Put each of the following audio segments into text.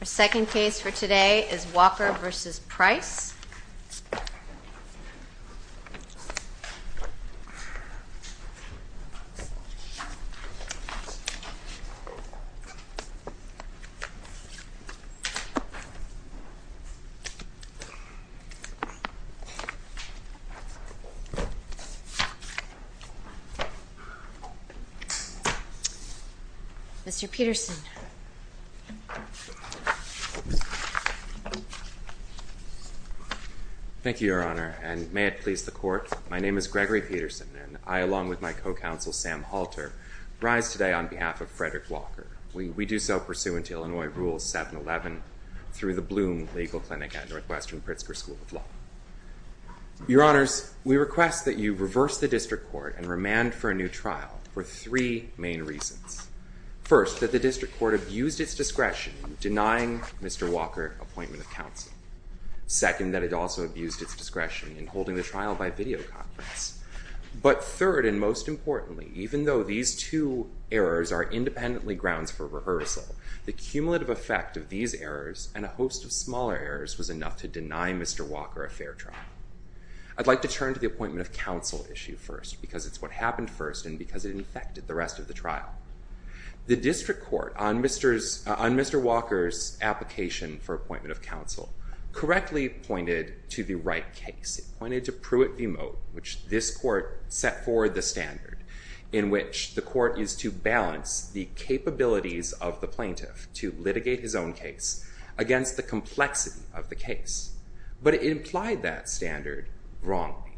Our second case for today is Walker v. Price. Mr. Peterson. Gregory Peterson Thank you, Your Honor, and may it please the Court, my name is Gregory Peterson, and I along with my co-counsel Sam Halter rise today on behalf of Frederick Walker. We do so pursuant to Illinois Rule 711 through the Bloom Legal Clinic at Northwestern Pritzker School of Law. Your Honors, we request that you reverse the district court and remand for a new trial for three main reasons. First, that the district court abused its discretion in denying Mr. Walker appointment of counsel. Second, that it also abused its discretion in holding the trial by videoconference. But third, and most importantly, even though these two errors are independently grounds for rehearsal, the cumulative effect of these errors and a host of smaller errors was enough to deny Mr. Walker a fair trial. I'd like to turn to the appointment of counsel issue first because it's what happened first and because it infected the rest of the trial. The district court on Mr. Walker's application for appointment of counsel correctly pointed to the right case. It pointed to Pruitt v. Moat, which this court set forward the standard in which the court is to balance the capabilities of the plaintiff to litigate his own case against the complexity of the case. But it implied that standard wrongly.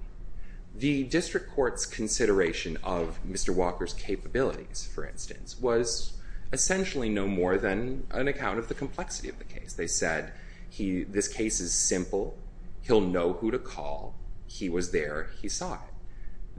The district court's consideration of Mr. Walker's capabilities, for instance, was essentially no more than an account of the complexity of the case. They said this case is simple, he'll know who to call, he was there, he saw it.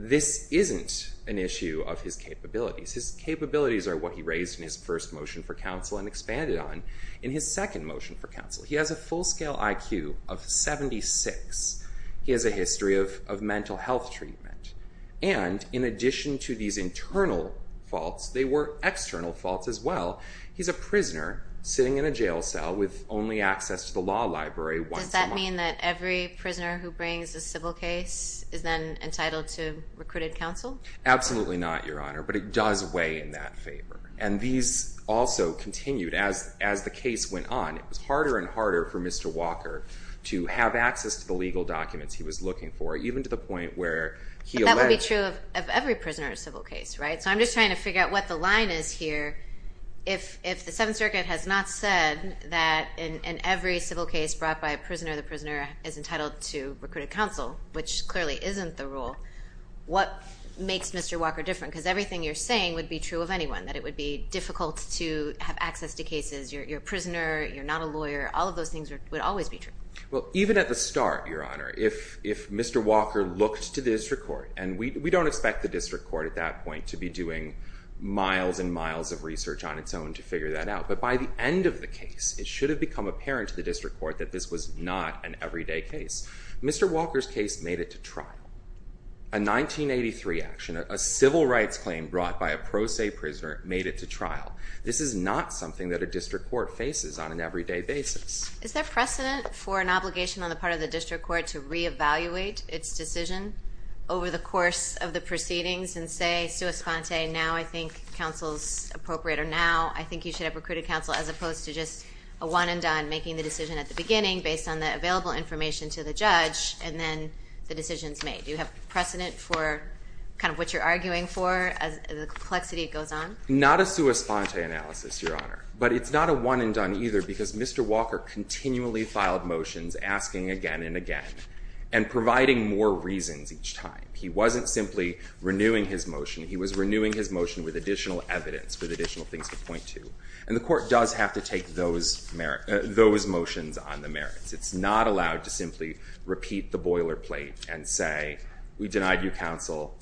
This isn't an issue of his capabilities. His capabilities are what he raised in his first motion for counsel and expanded on in his second motion for counsel. He has a full-scale IQ of 76. He has a history of mental health treatment. And in addition to these internal faults, they were external faults as well. He's a prisoner sitting in a jail cell with only access to the law library once a month. Does that mean that every prisoner who brings a civil case is then entitled to recruited counsel? Absolutely not, Your Honor, but it does weigh in that favor. And these also continued as the case went on. It was harder and harder for Mr. Walker to have access to the legal documents he was looking for, even to the point where he alleged... But that would be true of every prisoner of a civil case, right? So I'm just trying to figure out what the line is here. If the Seventh Circuit has not said that in every civil case brought by a prisoner, the prisoner is entitled to recruited counsel, which clearly isn't the rule, what makes Mr. Walker different? Because everything you're saying would be true of anyone, that it would be difficult to have access to cases, you're a prisoner, you're not a lawyer, all of those things would always be true. Well, even at the start, Your Honor, if Mr. Walker looked to the district court, and we don't expect the district court at that point to be doing miles and miles of research on its own to figure that out. But by the end of the case, it should have become apparent to the district court that this was not an everyday case. Mr. Walker's case made it to trial. A 1983 action, a civil rights claim brought by a pro se prisoner made it to trial. This is not something that a district court faces on an everyday basis. Is there precedent for an obligation on the part of the district court to reevaluate its decision over the course of the proceedings and say, Sua Sponte, now I think counsel's appropriate, or now I think you should have recruited counsel, as opposed to just a one and done, making the decision at the beginning based on the available information to the judge, and then the decision's made. Do you have precedent for kind of what you're arguing for as the complexity goes on? Not a Sua Sponte analysis, Your Honor. But it's not a one and done either, because Mr. Walker continually filed motions asking again and again, and providing more reasons each time. He wasn't simply renewing his motion. He was renewing his motion with additional evidence, with additional things to point to. And the court does have to take those motions on the merits. It's not allowed to simply repeat the boilerplate and say, we denied you counsel.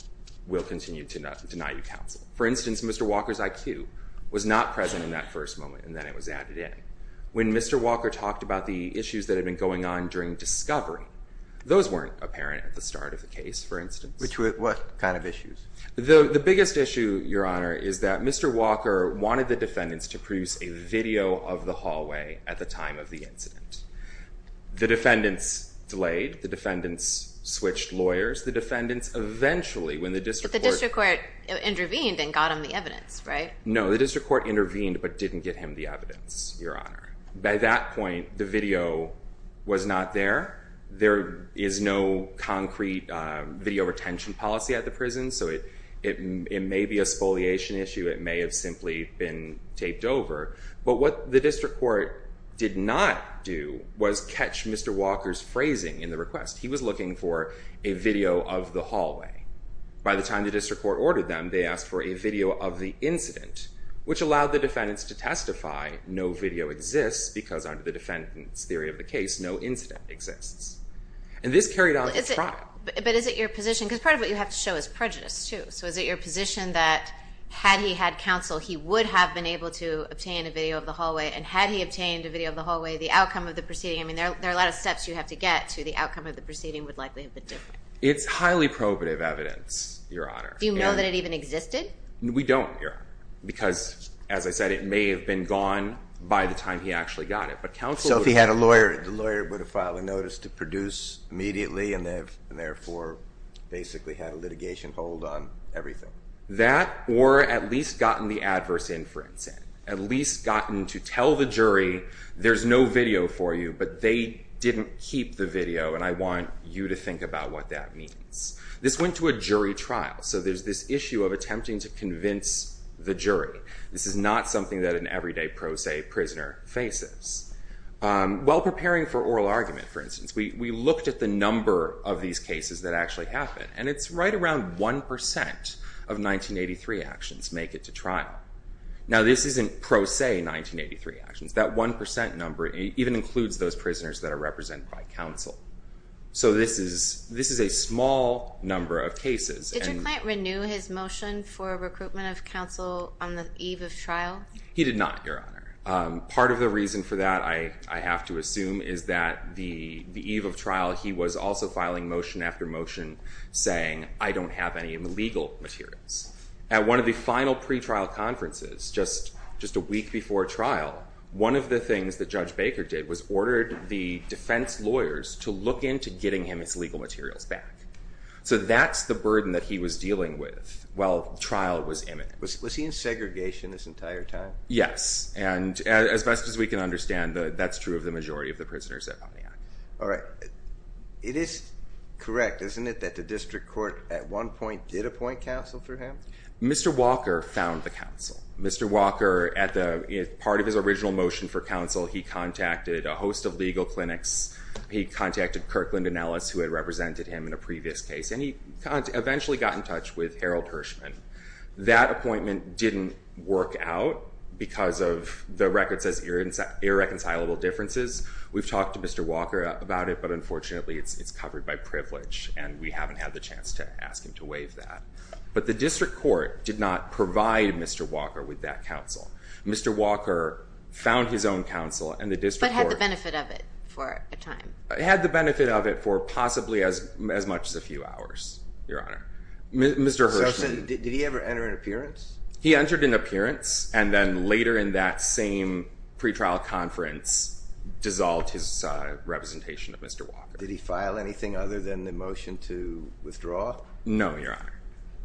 We'll continue to deny you counsel. For instance, Mr. Walker's IQ was not present in that first moment, and then it was added in. When Mr. Walker talked about the issues that had been going on during discovery, those weren't apparent at the start of the case, for instance. Which were what kind of issues? The biggest issue, Your Honor, is that Mr. Walker wanted the defendants to produce a video of the hallway at the time of the incident. The defendants delayed. The defendants switched lawyers. The defendants eventually, when the district court- But the district court intervened and got him the evidence, right? No, the district court intervened but didn't get him the evidence, Your Honor. By that point, the video was not there. There is no concrete video retention policy at the prison, so it may be a spoliation issue. It may have simply been taped over. But what the district court did not do was catch Mr. Walker's phrasing in the request. He was looking for a video of the hallway. By the time the district court ordered them, they asked for a video of the incident, which allowed the defendants to testify no video exists because under the defendant's theory of the case, no incident exists. And this carried on through trial. But is it your position, because part of what you have to show is prejudice, too. So is it your position that had he had counsel, he would have been able to obtain a video of the hallway? And had he obtained a video of the hallway, the outcome of the proceeding- I mean, there are a lot of steps you have to get to. The outcome of the proceeding would likely have been different. It's highly probative evidence, Your Honor. Do you know that it even existed? We don't, Your Honor, because as I said, it may have been gone by the time he actually got it. So if he had a lawyer, the lawyer would have filed a notice to produce immediately and therefore basically had a litigation hold on everything. That or at least gotten the adverse inference in. At least gotten to tell the jury, there's no video for you, but they didn't keep the video and I want you to think about what that means. This went to a jury trial, so there's this issue of attempting to convince the jury. This is not something that an everyday pro se prisoner faces. While preparing for oral argument, for instance, we looked at the number of these cases that actually happened. And it's right around 1% of 1983 actions make it to trial. Now this isn't pro se 1983 actions. That 1% number even includes those prisoners that are represented by counsel. So this is a small number of cases. Did your client renew his motion for recruitment of counsel on the eve of trial? He did not, Your Honor. Part of the reason for that, I have to assume, is that the eve of trial, he was also filing motion after motion saying, I don't have any legal materials. At one of the final pretrial conferences, just a week before trial, one of the things that Judge Baker did was ordered the defense lawyers to look into getting him his legal materials back. So that's the burden that he was dealing with while trial was imminent. Was he in segregation this entire time? Yes. And as best as we can understand, that's true of the majority of the prisoners at Pontiac. All right. It is correct, isn't it, that the district court at one point did appoint counsel for him? Mr. Walker found the counsel. Mr. Walker, as part of his original motion for counsel, he contacted a host of legal clinics. He contacted Kirkland and Ellis, who had represented him in a previous case, and he eventually got in touch with Harold Hirschman. That appointment didn't work out because of the record says irreconcilable differences. We've talked to Mr. Walker about it, but unfortunately it's covered by privilege, and we haven't had the chance to ask him to waive that. But the district court did not provide Mr. Walker with that counsel. Mr. Walker found his own counsel, and the district court— But had the benefit of it for a time? Had the benefit of it for possibly as much as a few hours, Your Honor. So did he ever enter an appearance? He entered an appearance and then later in that same pretrial conference dissolved his representation of Mr. Walker. Did he file anything other than the motion to withdraw? No, Your Honor.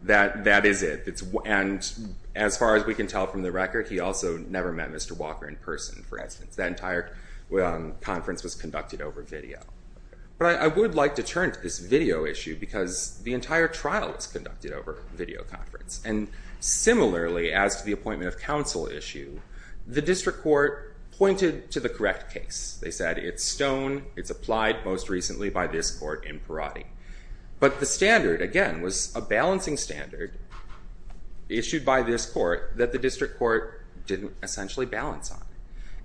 That is it. And as far as we can tell from the record, he also never met Mr. Walker in person, for instance. That entire conference was conducted over video. But I would like to turn to this video issue because the entire trial was conducted over video conference. And similarly, as to the appointment of counsel issue, the district court pointed to the correct case. They said it's stone, it's applied most recently by this court in Perotti. But the standard, again, was a balancing standard issued by this court that the district court didn't essentially balance on.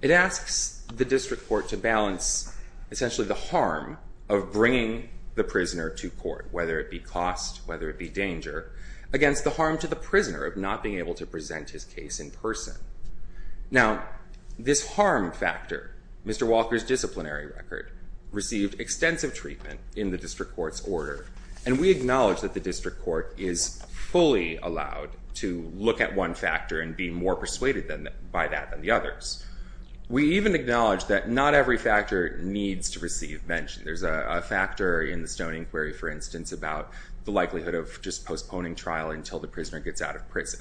It asks the district court to balance essentially the harm of bringing the prisoner to court, whether it be cost, whether it be danger, against the harm to the prisoner of not being able to present his case in person. Now, this harm factor, Mr. Walker's disciplinary record, received extensive treatment in the district court's order. And we acknowledge that the district court is fully allowed to look at one factor and be more persuaded by that than the others. We even acknowledge that not every factor needs to receive mention. There's a factor in the Stone inquiry, for instance, about the likelihood of just postponing trial until the prisoner gets out of prison.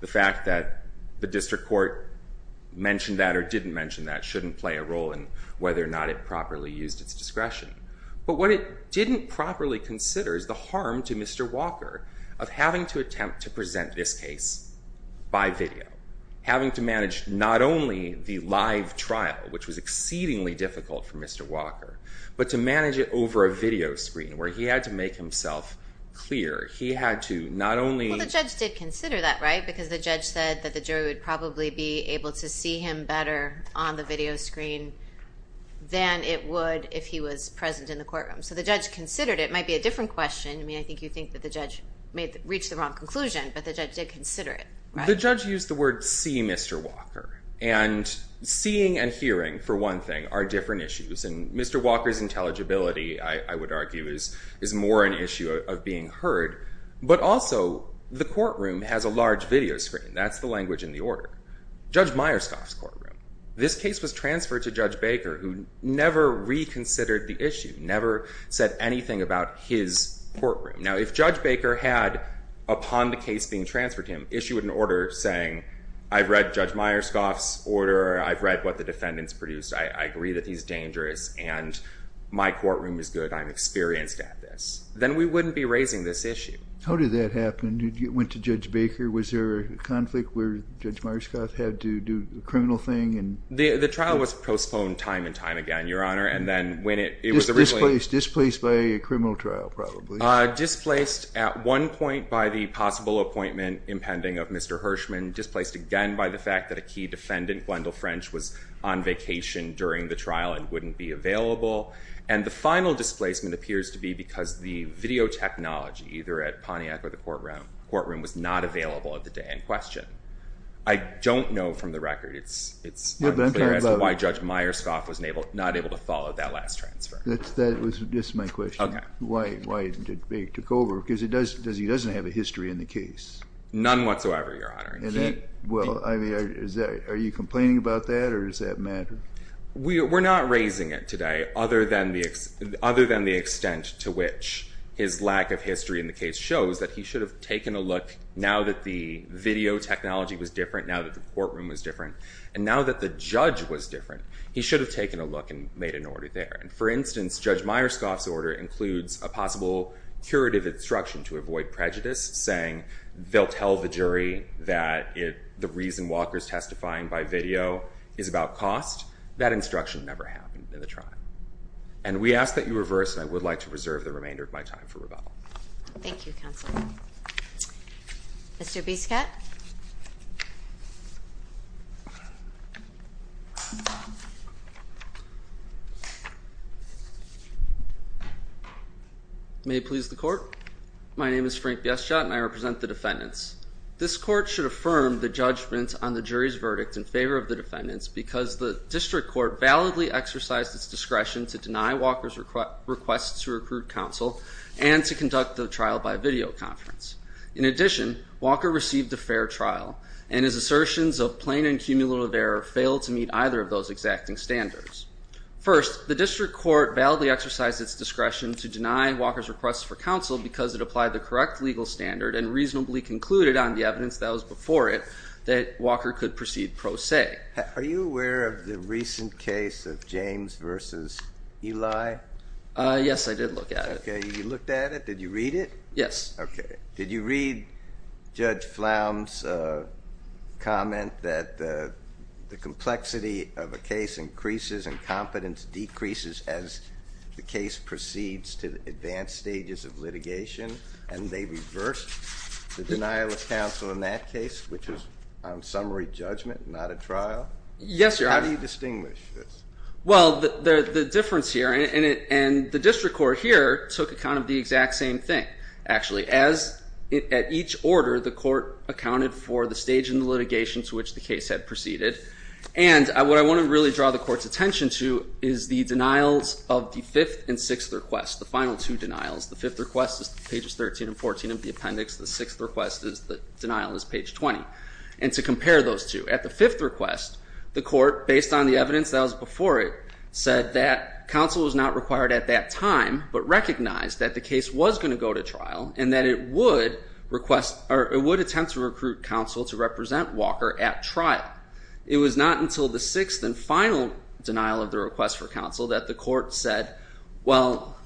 The fact that the district court mentioned that or didn't mention that shouldn't play a role in whether or not it properly used its discretion. But what it didn't properly consider is the harm to Mr. Walker of having to attempt to present this case by video, having to manage not only the live trial, which was exceedingly difficult for Mr. Walker, but to manage it over a video screen where he had to make himself clear. He had to not only... Well, the judge did consider that, right? Because the judge said that the jury would probably be able to see him better on the video screen than it would if he was present in the courtroom. So the judge considered it. It might be a different question. I mean, I think you think that the judge reached the wrong conclusion, but the judge did consider it. The judge used the word see Mr. Walker. And seeing and hearing, for one thing, are different issues. And Mr. Walker's intelligibility, I would argue, is more an issue of being heard. But also, the courtroom has a large video screen. That's the language in the order. Judge Myerscoff's courtroom. This case was transferred to Judge Baker, who never reconsidered the issue, never said anything about his courtroom. Now, if Judge Baker had, upon the case being transferred to him, issued an order saying, I've read Judge Myerscoff's order. I've read what the defendant's produced. I agree that he's dangerous. And my courtroom is good. I'm experienced at this. Then we wouldn't be raising this issue. How did that happen? It went to Judge Baker. Was there a conflict where Judge Myerscoff had to do the criminal thing? The trial was postponed time and time again, Your Honor. And then when it was originally... Displaced by a criminal trial, probably. Displaced at one point by the possible appointment impending of Mr. Hirschman. Displaced again by the fact that a key defendant, Gwendolyn French, was on vacation during the trial and wouldn't be available. And the final displacement appears to be because the video technology, either at Pontiac or the courtroom, was not available at the day in question. I don't know from the record. It's not clear as to why Judge Myerscoff was not able to follow that last transfer. That was just my question. Why didn't they take over? Because he doesn't have a history in the case. None whatsoever, Your Honor. Are you complaining about that or does that matter? We're not raising it today other than the extent to which his lack of history in the case shows that he should have taken a look, now that the video technology was different, now that the courtroom was different, and now that the judge was different. He should have taken a look and made an order there. And, for instance, Judge Myerscoff's order includes a possible curative instruction to avoid prejudice, saying they'll tell the jury that the reason Walker's testifying by video is about cost. That instruction never happened in the trial. And we ask that you reverse, and I would like to reserve the remainder of my time for rebuttal. Thank you, Counselor. Mr. Biscott? May it please the Court? My name is Frank Biscott, and I represent the defendants. This Court should affirm the judgment on the jury's verdict in favor of the defendants because the District Court validly exercised its discretion to deny Walker's request to recruit counsel and to conduct the trial by video conference. In addition, Walker received a fair trial, and his assertions of plain and cumulative error failed to meet either of those exacting standards. First, the District Court validly exercised its discretion to deny Walker's request for counsel because it applied the correct legal standard and reasonably concluded on the evidence that was before it that Walker could proceed pro se. Are you aware of the recent case of James v. Eli? Yes, I did look at it. Okay, you looked at it. Did you read it? Yes. Okay. Did you read Judge Flound's comment that the complexity of a case increases and competence decreases as the case proceeds to advanced stages of litigation, and they reversed the denial of counsel in that case, which is on summary judgment, not a trial? Yes, Your Honor. How do you distinguish this? Well, the difference here, and the District Court here took account of the exact same thing, actually, as at each order the court accounted for the stage in the litigation to which the case had proceeded, and what I want to really draw the court's attention to is the denials of the fifth and sixth requests, the final two denials. The fifth request is pages 13 and 14 of the appendix. The sixth request is the denial is page 20, and to compare those two. At the fifth request, the court, based on the evidence that was before it, said that counsel was not required at that time but recognized that the case was going to go to trial and that it would attempt to recruit counsel to represent Walker at trial. It was not until the sixth and final denial of the request for counsel that the court said, well,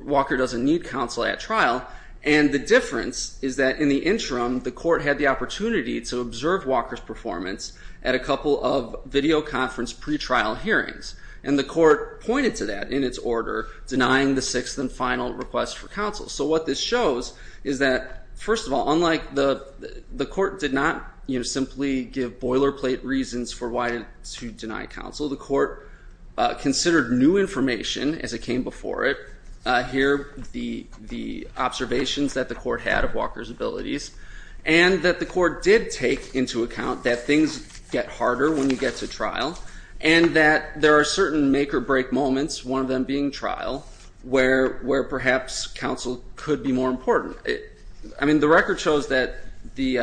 Walker doesn't need counsel at trial, and the difference is that in the interim the court had the opportunity to observe Walker's performance at a couple of videoconference pretrial hearings, and the court pointed to that in its order denying the sixth and final request for counsel. So what this shows is that, first of all, unlike the court did not simply give boilerplate reasons for why to deny counsel, the court considered new information as it came before it, here the observations that the court had of Walker's abilities, and that the court did take into account that things get harder when you get to trial and that there are certain make-or-break moments, one of them being trial, where perhaps counsel could be more important. I mean, the record shows that the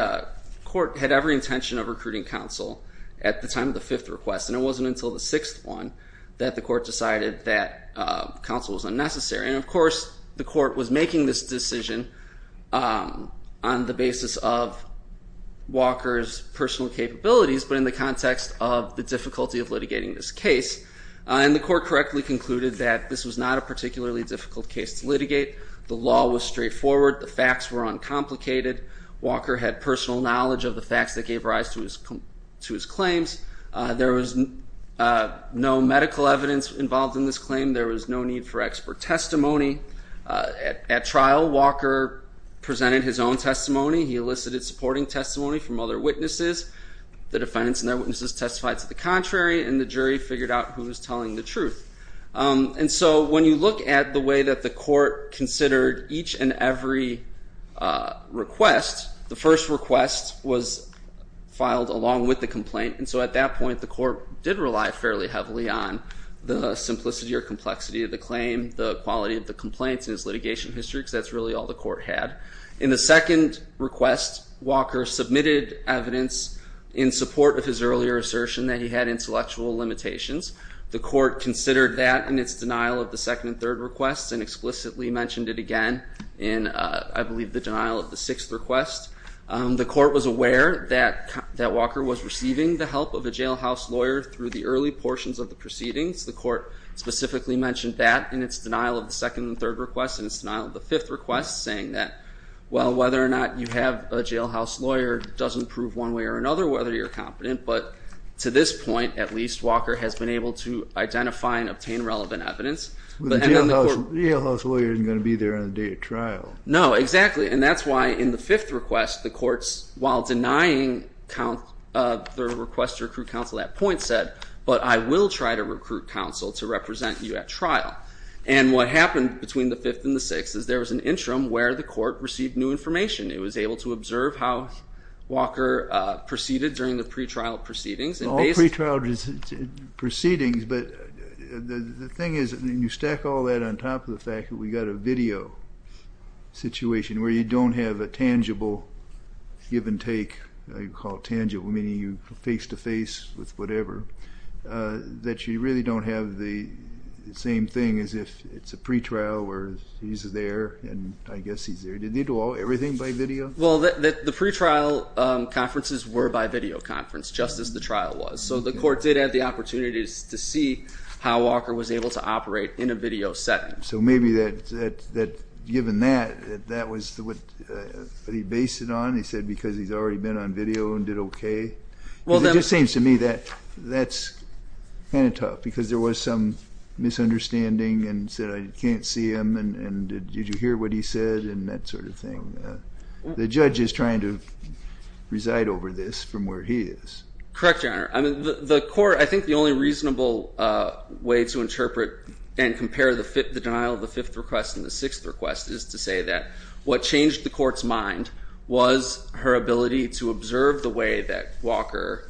court had every intention of recruiting counsel at the time of the fifth request, and it wasn't until the sixth one that the court decided that counsel was unnecessary. And, of course, the court was making this decision on the basis of Walker's personal capabilities but in the context of the difficulty of litigating this case. And the court correctly concluded that this was not a particularly difficult case to litigate. The law was straightforward. The facts were uncomplicated. Walker had personal knowledge of the facts that gave rise to his claims. There was no medical evidence involved in this claim. There was no need for expert testimony. At trial, Walker presented his own testimony. He elicited supporting testimony from other witnesses. The defendants and their witnesses testified to the contrary, and the jury figured out who was telling the truth. And so when you look at the way that the court considered each and every request, the first request was filed along with the complaint, and so at that point the court did rely fairly heavily on the simplicity or complexity of the claim, the quality of the complaints in his litigation history, because that's really all the court had. In the second request, Walker submitted evidence in support of his earlier assertion that he had intellectual limitations. The court considered that in its denial of the second and third requests and explicitly mentioned it again in, I believe, the denial of the sixth request. The court was aware that Walker was receiving the help of a jailhouse lawyer through the early portions of the proceedings. The court specifically mentioned that in its denial of the second and third requests and its denial of the fifth request, saying that, well, whether or not you have a jailhouse lawyer doesn't prove one way or another whether you're competent, but to this point at least Walker has been able to identify and obtain relevant evidence. The jailhouse lawyer isn't going to be there on the day of trial. No, exactly, and that's why in the fifth request the court, while denying the request to recruit counsel at point set, but I will try to recruit counsel to represent you at trial. And what happened between the fifth and the sixth is there was an interim where the court received new information. It was able to observe how Walker proceeded during the pretrial proceedings. Well, all pretrial proceedings, but the thing is, when you stack all that on top of the fact that we've got a video situation where you don't have a tangible give and take, you call it tangible, meaning you face-to-face with whatever, that you really don't have the same thing as if it's a pretrial where he's there and I guess he's there. Did they do everything by video? Well, the pretrial conferences were by video conference, just as the trial was, so the court did have the opportunities to see how Walker was able to operate in a video setting. So maybe that, given that, that was what he based it on. He said because he's already been on video and did okay. It just seems to me that that's kind of tough because there was some misunderstanding and said I can't see him and did you hear what he said and that sort of thing. The judge is trying to reside over this from where he is. Correct, Your Honor. I mean, the court, I think the only reasonable way to interpret and compare the denial of the fifth request and the sixth request is to say that what changed the court's mind was her ability to observe the way that Walker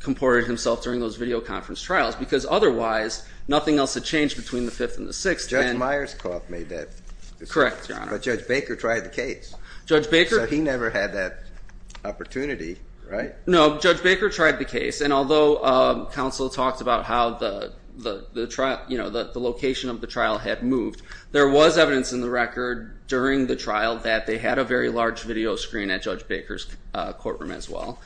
comported himself during those video conference trials because otherwise nothing else had changed between the fifth and the sixth. Judge Myerscough made that decision. Correct, Your Honor. But Judge Baker tried the case. Judge Baker. So he never had that opportunity, right? No, Judge Baker tried the case and although counsel talked about how the location of the trial had moved, there was evidence in the record during the trial that they had a very large video screen at Judge Baker's courtroom as well.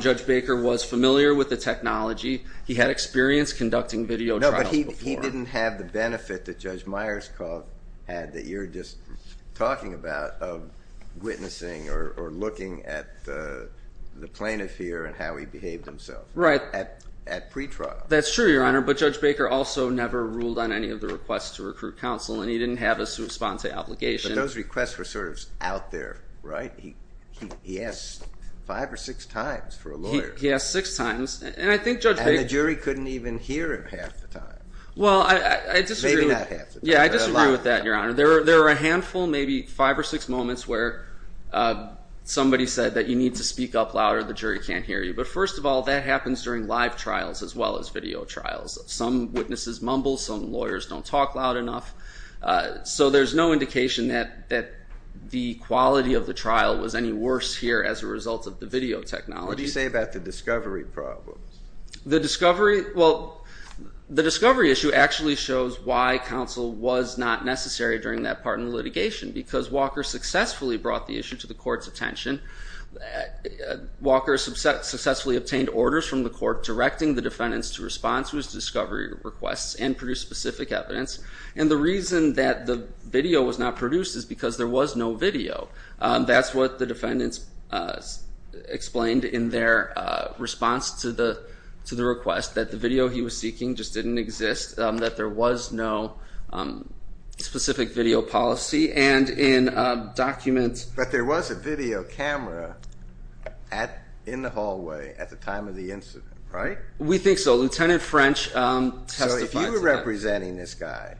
Judge Baker was familiar with the technology. He had experience conducting video trials before. No, but he didn't have the benefit that Judge Myerscough had that you're just talking about of witnessing or looking at the plaintiff here and how he behaved himself. Right. At pretrial. That's true, Your Honor, but Judge Baker also never ruled on any of the requests to recruit counsel and he didn't have a sui sponte obligation. But those requests were sort of out there, right? He asked five or six times for a lawyer. He asked six times and I think Judge Baker. And the jury couldn't even hear him half the time. Well, I disagree. Maybe not half the time. Yeah, I disagree with that, Your Honor. There were a handful, maybe five or six moments where somebody said that you need to speak up louder, the jury can't hear you. But first of all, that happens during live trials as well as video trials. Some witnesses mumble. Some lawyers don't talk loud enough. So there's no indication that the quality of the trial was any worse here as a result of the video technology. What do you say about the discovery problem? The discovery issue actually shows why counsel was not necessary during that part in the litigation because Walker successfully brought the issue to the court's attention. Walker successfully obtained orders from the court directing the defendants to respond to his discovery requests and produce specific evidence. And the reason that the video was not produced is because there was no video. That's what the defendants explained in their response to the request, that the video he was seeking just didn't exist, that there was no specific video policy. But there was a video camera in the hallway at the time of the incident, right? We think so. Lieutenant French testified to that. So if you were representing this guy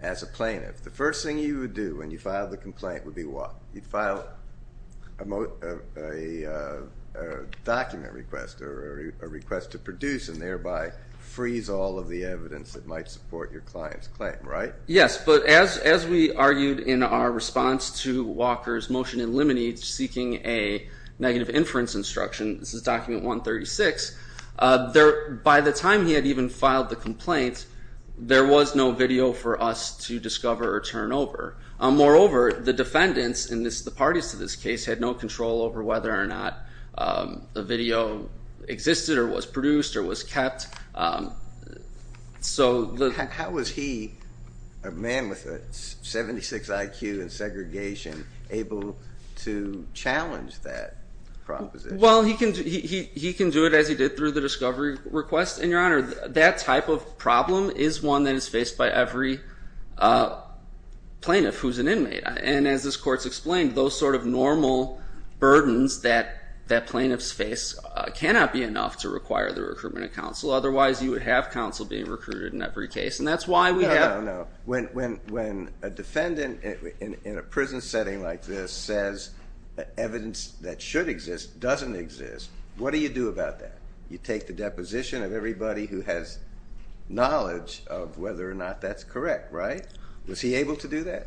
as a plaintiff, the first thing you would do when you filed the complaint would be what? You'd file a document request or a request to produce and thereby freeze all of the evidence that might support your client's claim, right? Yes. But as we argued in our response to Walker's motion in limine seeking a negative inference instruction, this is document 136, by the time he had even filed the complaint, there was no video for us to discover or turn over. Moreover, the defendants and the parties to this case had no control over whether or not the video existed or was produced or was kept. How was he, a man with a 76 IQ and segregation, able to challenge that proposition? Well, he can do it as he did through the discovery request, and, Your Honor, that type of problem is one that is faced by every plaintiff who's an inmate. And as this Court's explained, those sort of normal burdens that plaintiffs face cannot be enough to require the recruitment of counsel. Otherwise, you would have counsel being recruited in every case. And that's why we have- No, no, no. When a defendant in a prison setting like this says evidence that should exist doesn't exist, what do you do about that? You take the deposition of everybody who has knowledge of whether or not that's correct, right? Was he able to do that?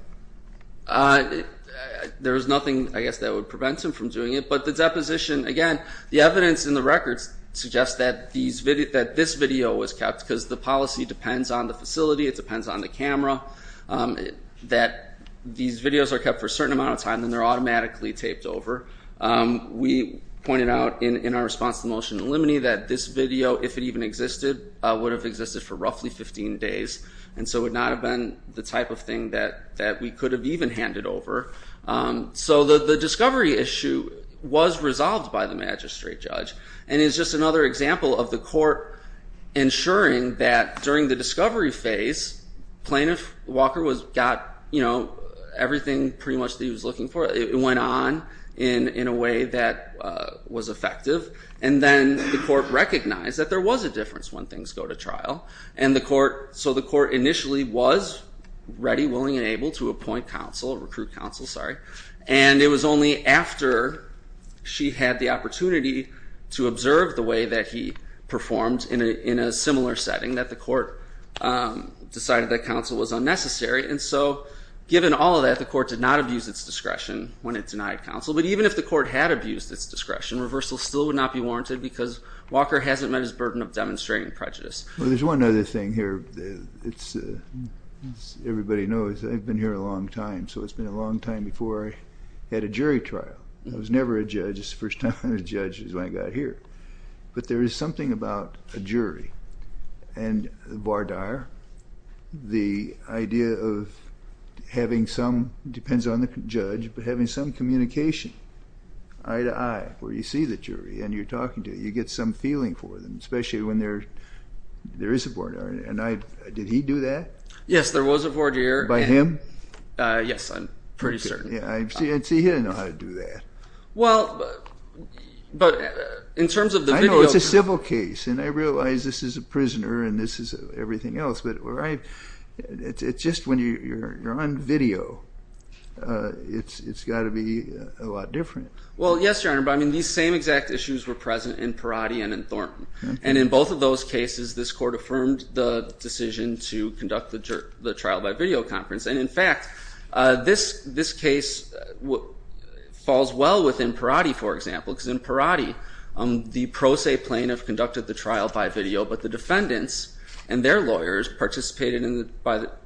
There was nothing, I guess, that would prevent him from doing it. But the deposition, again, the evidence in the records suggests that this video was kept because the policy depends on the facility, it depends on the camera, that these videos are kept for a certain amount of time and they're automatically taped over. We pointed out in our response to the motion in limine that this video, if it even existed, would have existed for roughly 15 days and so would not have been the type of thing that we could have even handed over. So the discovery issue was resolved by the magistrate judge and is just another example of the court ensuring that during the discovery phase, plaintiff Walker got everything pretty much that he was looking for. It went on in a way that was effective. And then the court recognized that there was a difference when things go to trial. So the court initially was ready, willing, and able to appoint counsel, recruit counsel, sorry, and it was only after she had the opportunity to observe the way that he performed in a similar setting that the court decided that counsel was unnecessary. And so given all of that, the court did not abuse its discretion when it denied counsel. But even if the court had abused its discretion, reversal still would not be warranted because Walker hasn't met his burden of demonstrating prejudice. Well, there's one other thing here. As everybody knows, I've been here a long time, so it's been a long time before I had a jury trial. I was never a judge. The first time I was a judge is when I got here. But there is something about a jury and the voir dire, the idea of having some, depends on the judge, but having some communication eye to eye where you see the jury and you're talking to them, you get some feeling for them, especially when there is a voir dire. And did he do that? Yes, there was a voir dire. By him? Yes, I'm pretty certain. See, he didn't know how to do that. Well, but in terms of the video. I know it's a civil case, and I realize this is a prisoner and this is everything else, but it's just when you're on video, it's got to be a lot different. Well, yes, Your Honor, but I mean, these same exact issues were present in Perotti and in Thornton. And in both of those cases, this court affirmed the decision to conduct the trial by video conference. And in fact, this case falls well within Perotti, for example, because in Perotti, the pro se plaintiff conducted the trial by video, but the defendants and their lawyers participated in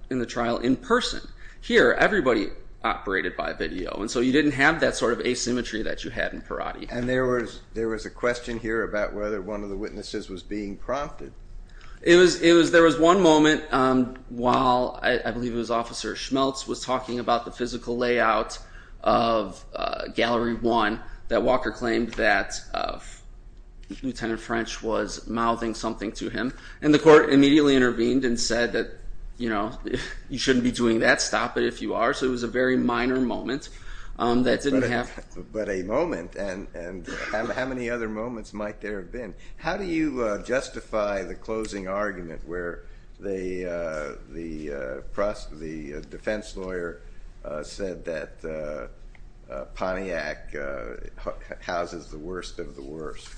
the trial in person. Here, everybody operated by video. And so you didn't have that sort of asymmetry that you had in Perotti. And there was a question here about whether one of the witnesses was being prompted. There was one moment while I believe it was Officer Schmelz was talking about the physical layout of Gallery 1 that Walker claimed that Lieutenant French was mouthing something to him. And the court immediately intervened and said that you shouldn't be doing that. Stop it if you are. So it was a very minor moment that didn't happen. But a moment, and how many other moments might there have been? How do you justify the closing argument where the defense lawyer said that Pontiac houses the worst of the worst?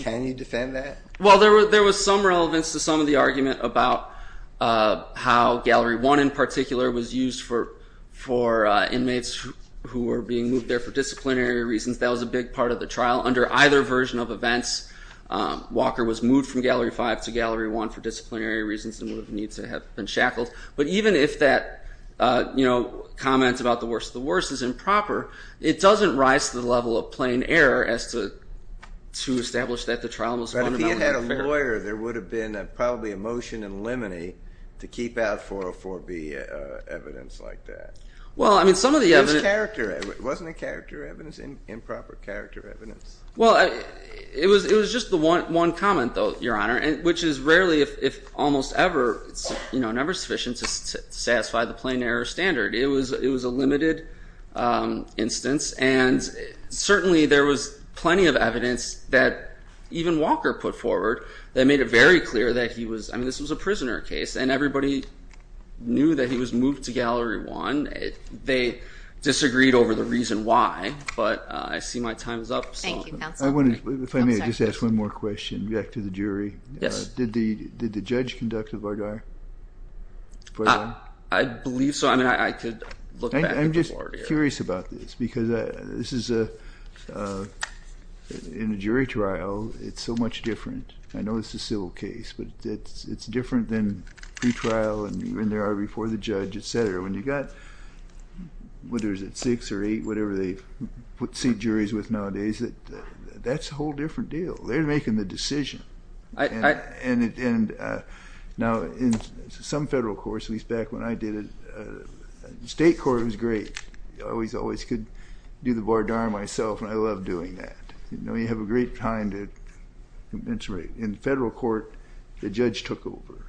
Can you defend that? Well, there was some relevance to some of the argument about how Gallery 1 in particular was used for inmates who were being moved there for disciplinary reasons. That was a big part of the trial. Under either version of events, Walker was moved from Gallery 5 to Gallery 1 for disciplinary reasons and would have needed to have been shackled. But even if that comment about the worst of the worst is improper, it doesn't rise to the level of plain error as to establish that the trial was one and only fair. But if he had had a lawyer, there would have been probably a motion in limine to keep out 404B evidence like that. Well, I mean, some of the evidence. It was character. Wasn't it character evidence, improper character evidence? Well, it was just the one comment, though, Your Honor, which is rarely, if almost ever, never sufficient to satisfy the plain error standard. It was a limited instance, and certainly there was plenty of evidence that even Walker put forward that made it very clear that he was, I mean, this was a prisoner case, and everybody knew that he was moved to Gallery 1. They disagreed over the reason why, but I see my time is up. Thank you, counsel. If I may, I'll just ask one more question back to the jury. Yes. Did the judge conduct a Vardar? I believe so. I'm just curious about this because this is a jury trial. It's so much different. I know it's a civil case, but it's different than pretrial and even there are before the judge, et cetera. When you've got, what is it, six or eight, whatever they put seat juries with nowadays, that's a whole different deal. They're making the decision. Now, in some federal courts, at least back when I did it, state court was great. I always could do the Vardar myself, and I love doing that. You have a great time. In federal court, the judge took over,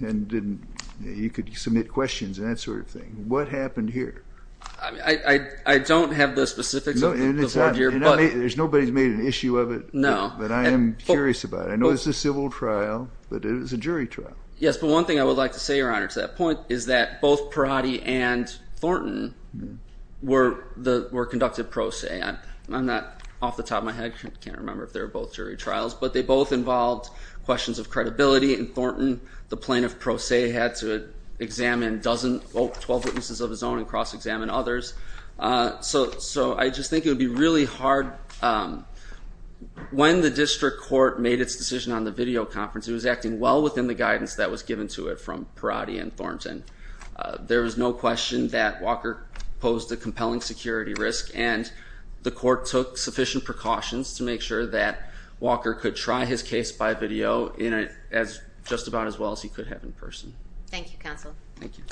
and you could submit questions and that sort of thing. What happened here? I don't have the specifics of the Vardar. There's nobody who's made an issue of it, but I am curious about it. I know it's a civil trial, but it is a jury trial. Yes, but one thing I would like to say, Your Honor, to that point is that both Perotti and Thornton were conducted pro se. I'm not off the top of my head. I can't remember if they were both jury trials, but they both involved questions of credibility, and Thornton, the plaintiff pro se, had to examine 12 witnesses of his own and cross-examine others. So I just think it would be really hard. When the district court made its decision on the video conference, it was acting well within the guidance that was given to it from Perotti and Thornton. There was no question that Walker posed a compelling security risk, and the court took sufficient precautions to make sure that Walker could try his case by video just about as well as he could have in person. Thank you, counsel. Thank you.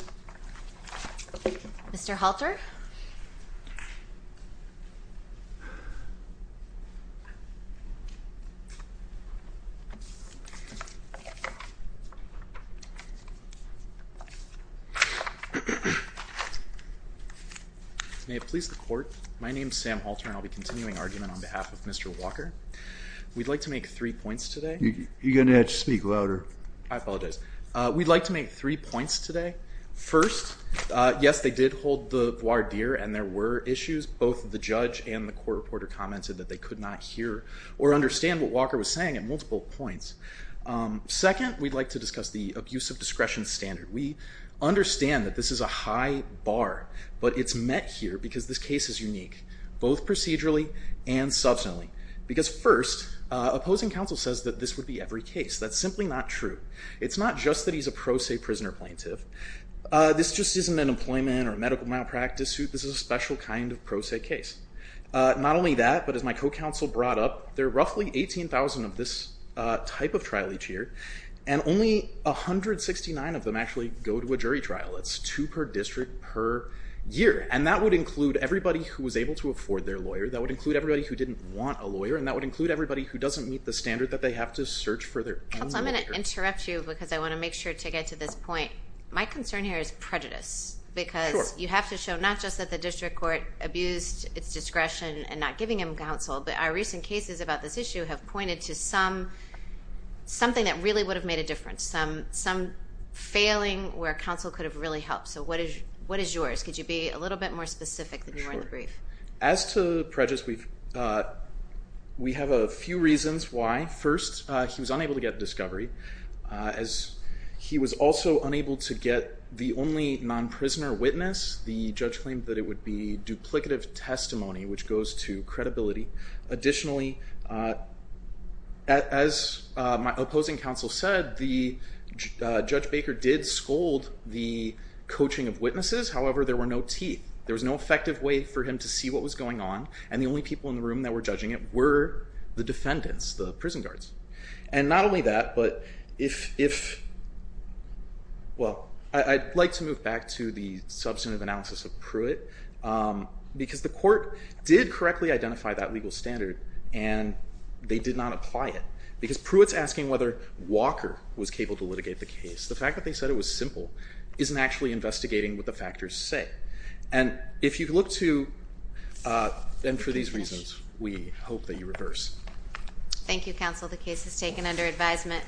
Mr. Halter? May it please the court, my name is Sam Halter, and I'll be continuing argument on behalf of Mr. Walker. We'd like to make three points today. You're going to have to speak louder. I apologize. We'd like to make three points today. First, yes, they did hold the voir dire and there were issues. Both the judge and the court reporter commented that they could not hear or understand what Walker was saying at multiple points. Second, we'd like to discuss the abuse of discretion standard. We understand that this is a high bar, but it's met here because this case is unique, both procedurally and substantially. Because first, opposing counsel says that this would be every case. That's simply not true. It's not just that he's a pro se prisoner plaintiff. This just isn't an employment or medical malpractice suit. This is a special kind of pro se case. Not only that, but as my co-counsel brought up, there are roughly 18,000 of this type of trial each year, and only 169 of them actually go to a jury trial. That's two per district per year, and that would include everybody who was able to afford their lawyer. That would include everybody who didn't want a lawyer, and that would include everybody who doesn't meet the standard that they have to search for their own lawyer. Well, I'm going to interrupt you because I want to make sure to get to this point. My concern here is prejudice because you have to show not just that the district court abused its discretion and not giving him counsel, but our recent cases about this issue have pointed to something that really would have made a difference, some failing where counsel could have really helped. So what is yours? Could you be a little bit more specific than you were in the brief? Sure. As to prejudice, we have a few reasons why. First, he was unable to get discovery. He was also unable to get the only non-prisoner witness. The judge claimed that it would be duplicative testimony, which goes to credibility. Additionally, as my opposing counsel said, Judge Baker did scold the coaching of witnesses. However, there were no teeth. There was no effective way for him to see what was going on, and the only people in the room that were judging it were the defendants, the prison guards. And not only that, but if, well, I'd like to move back to the substantive analysis of Pruitt because the court did correctly identify that legal standard and they did not apply it because Pruitt's asking whether Walker was capable to litigate the case. The fact that they said it was simple isn't actually investigating what the factors say. And if you look to, and for these reasons, we hope that you reverse. Thank you, counsel. The case is taken under advisement.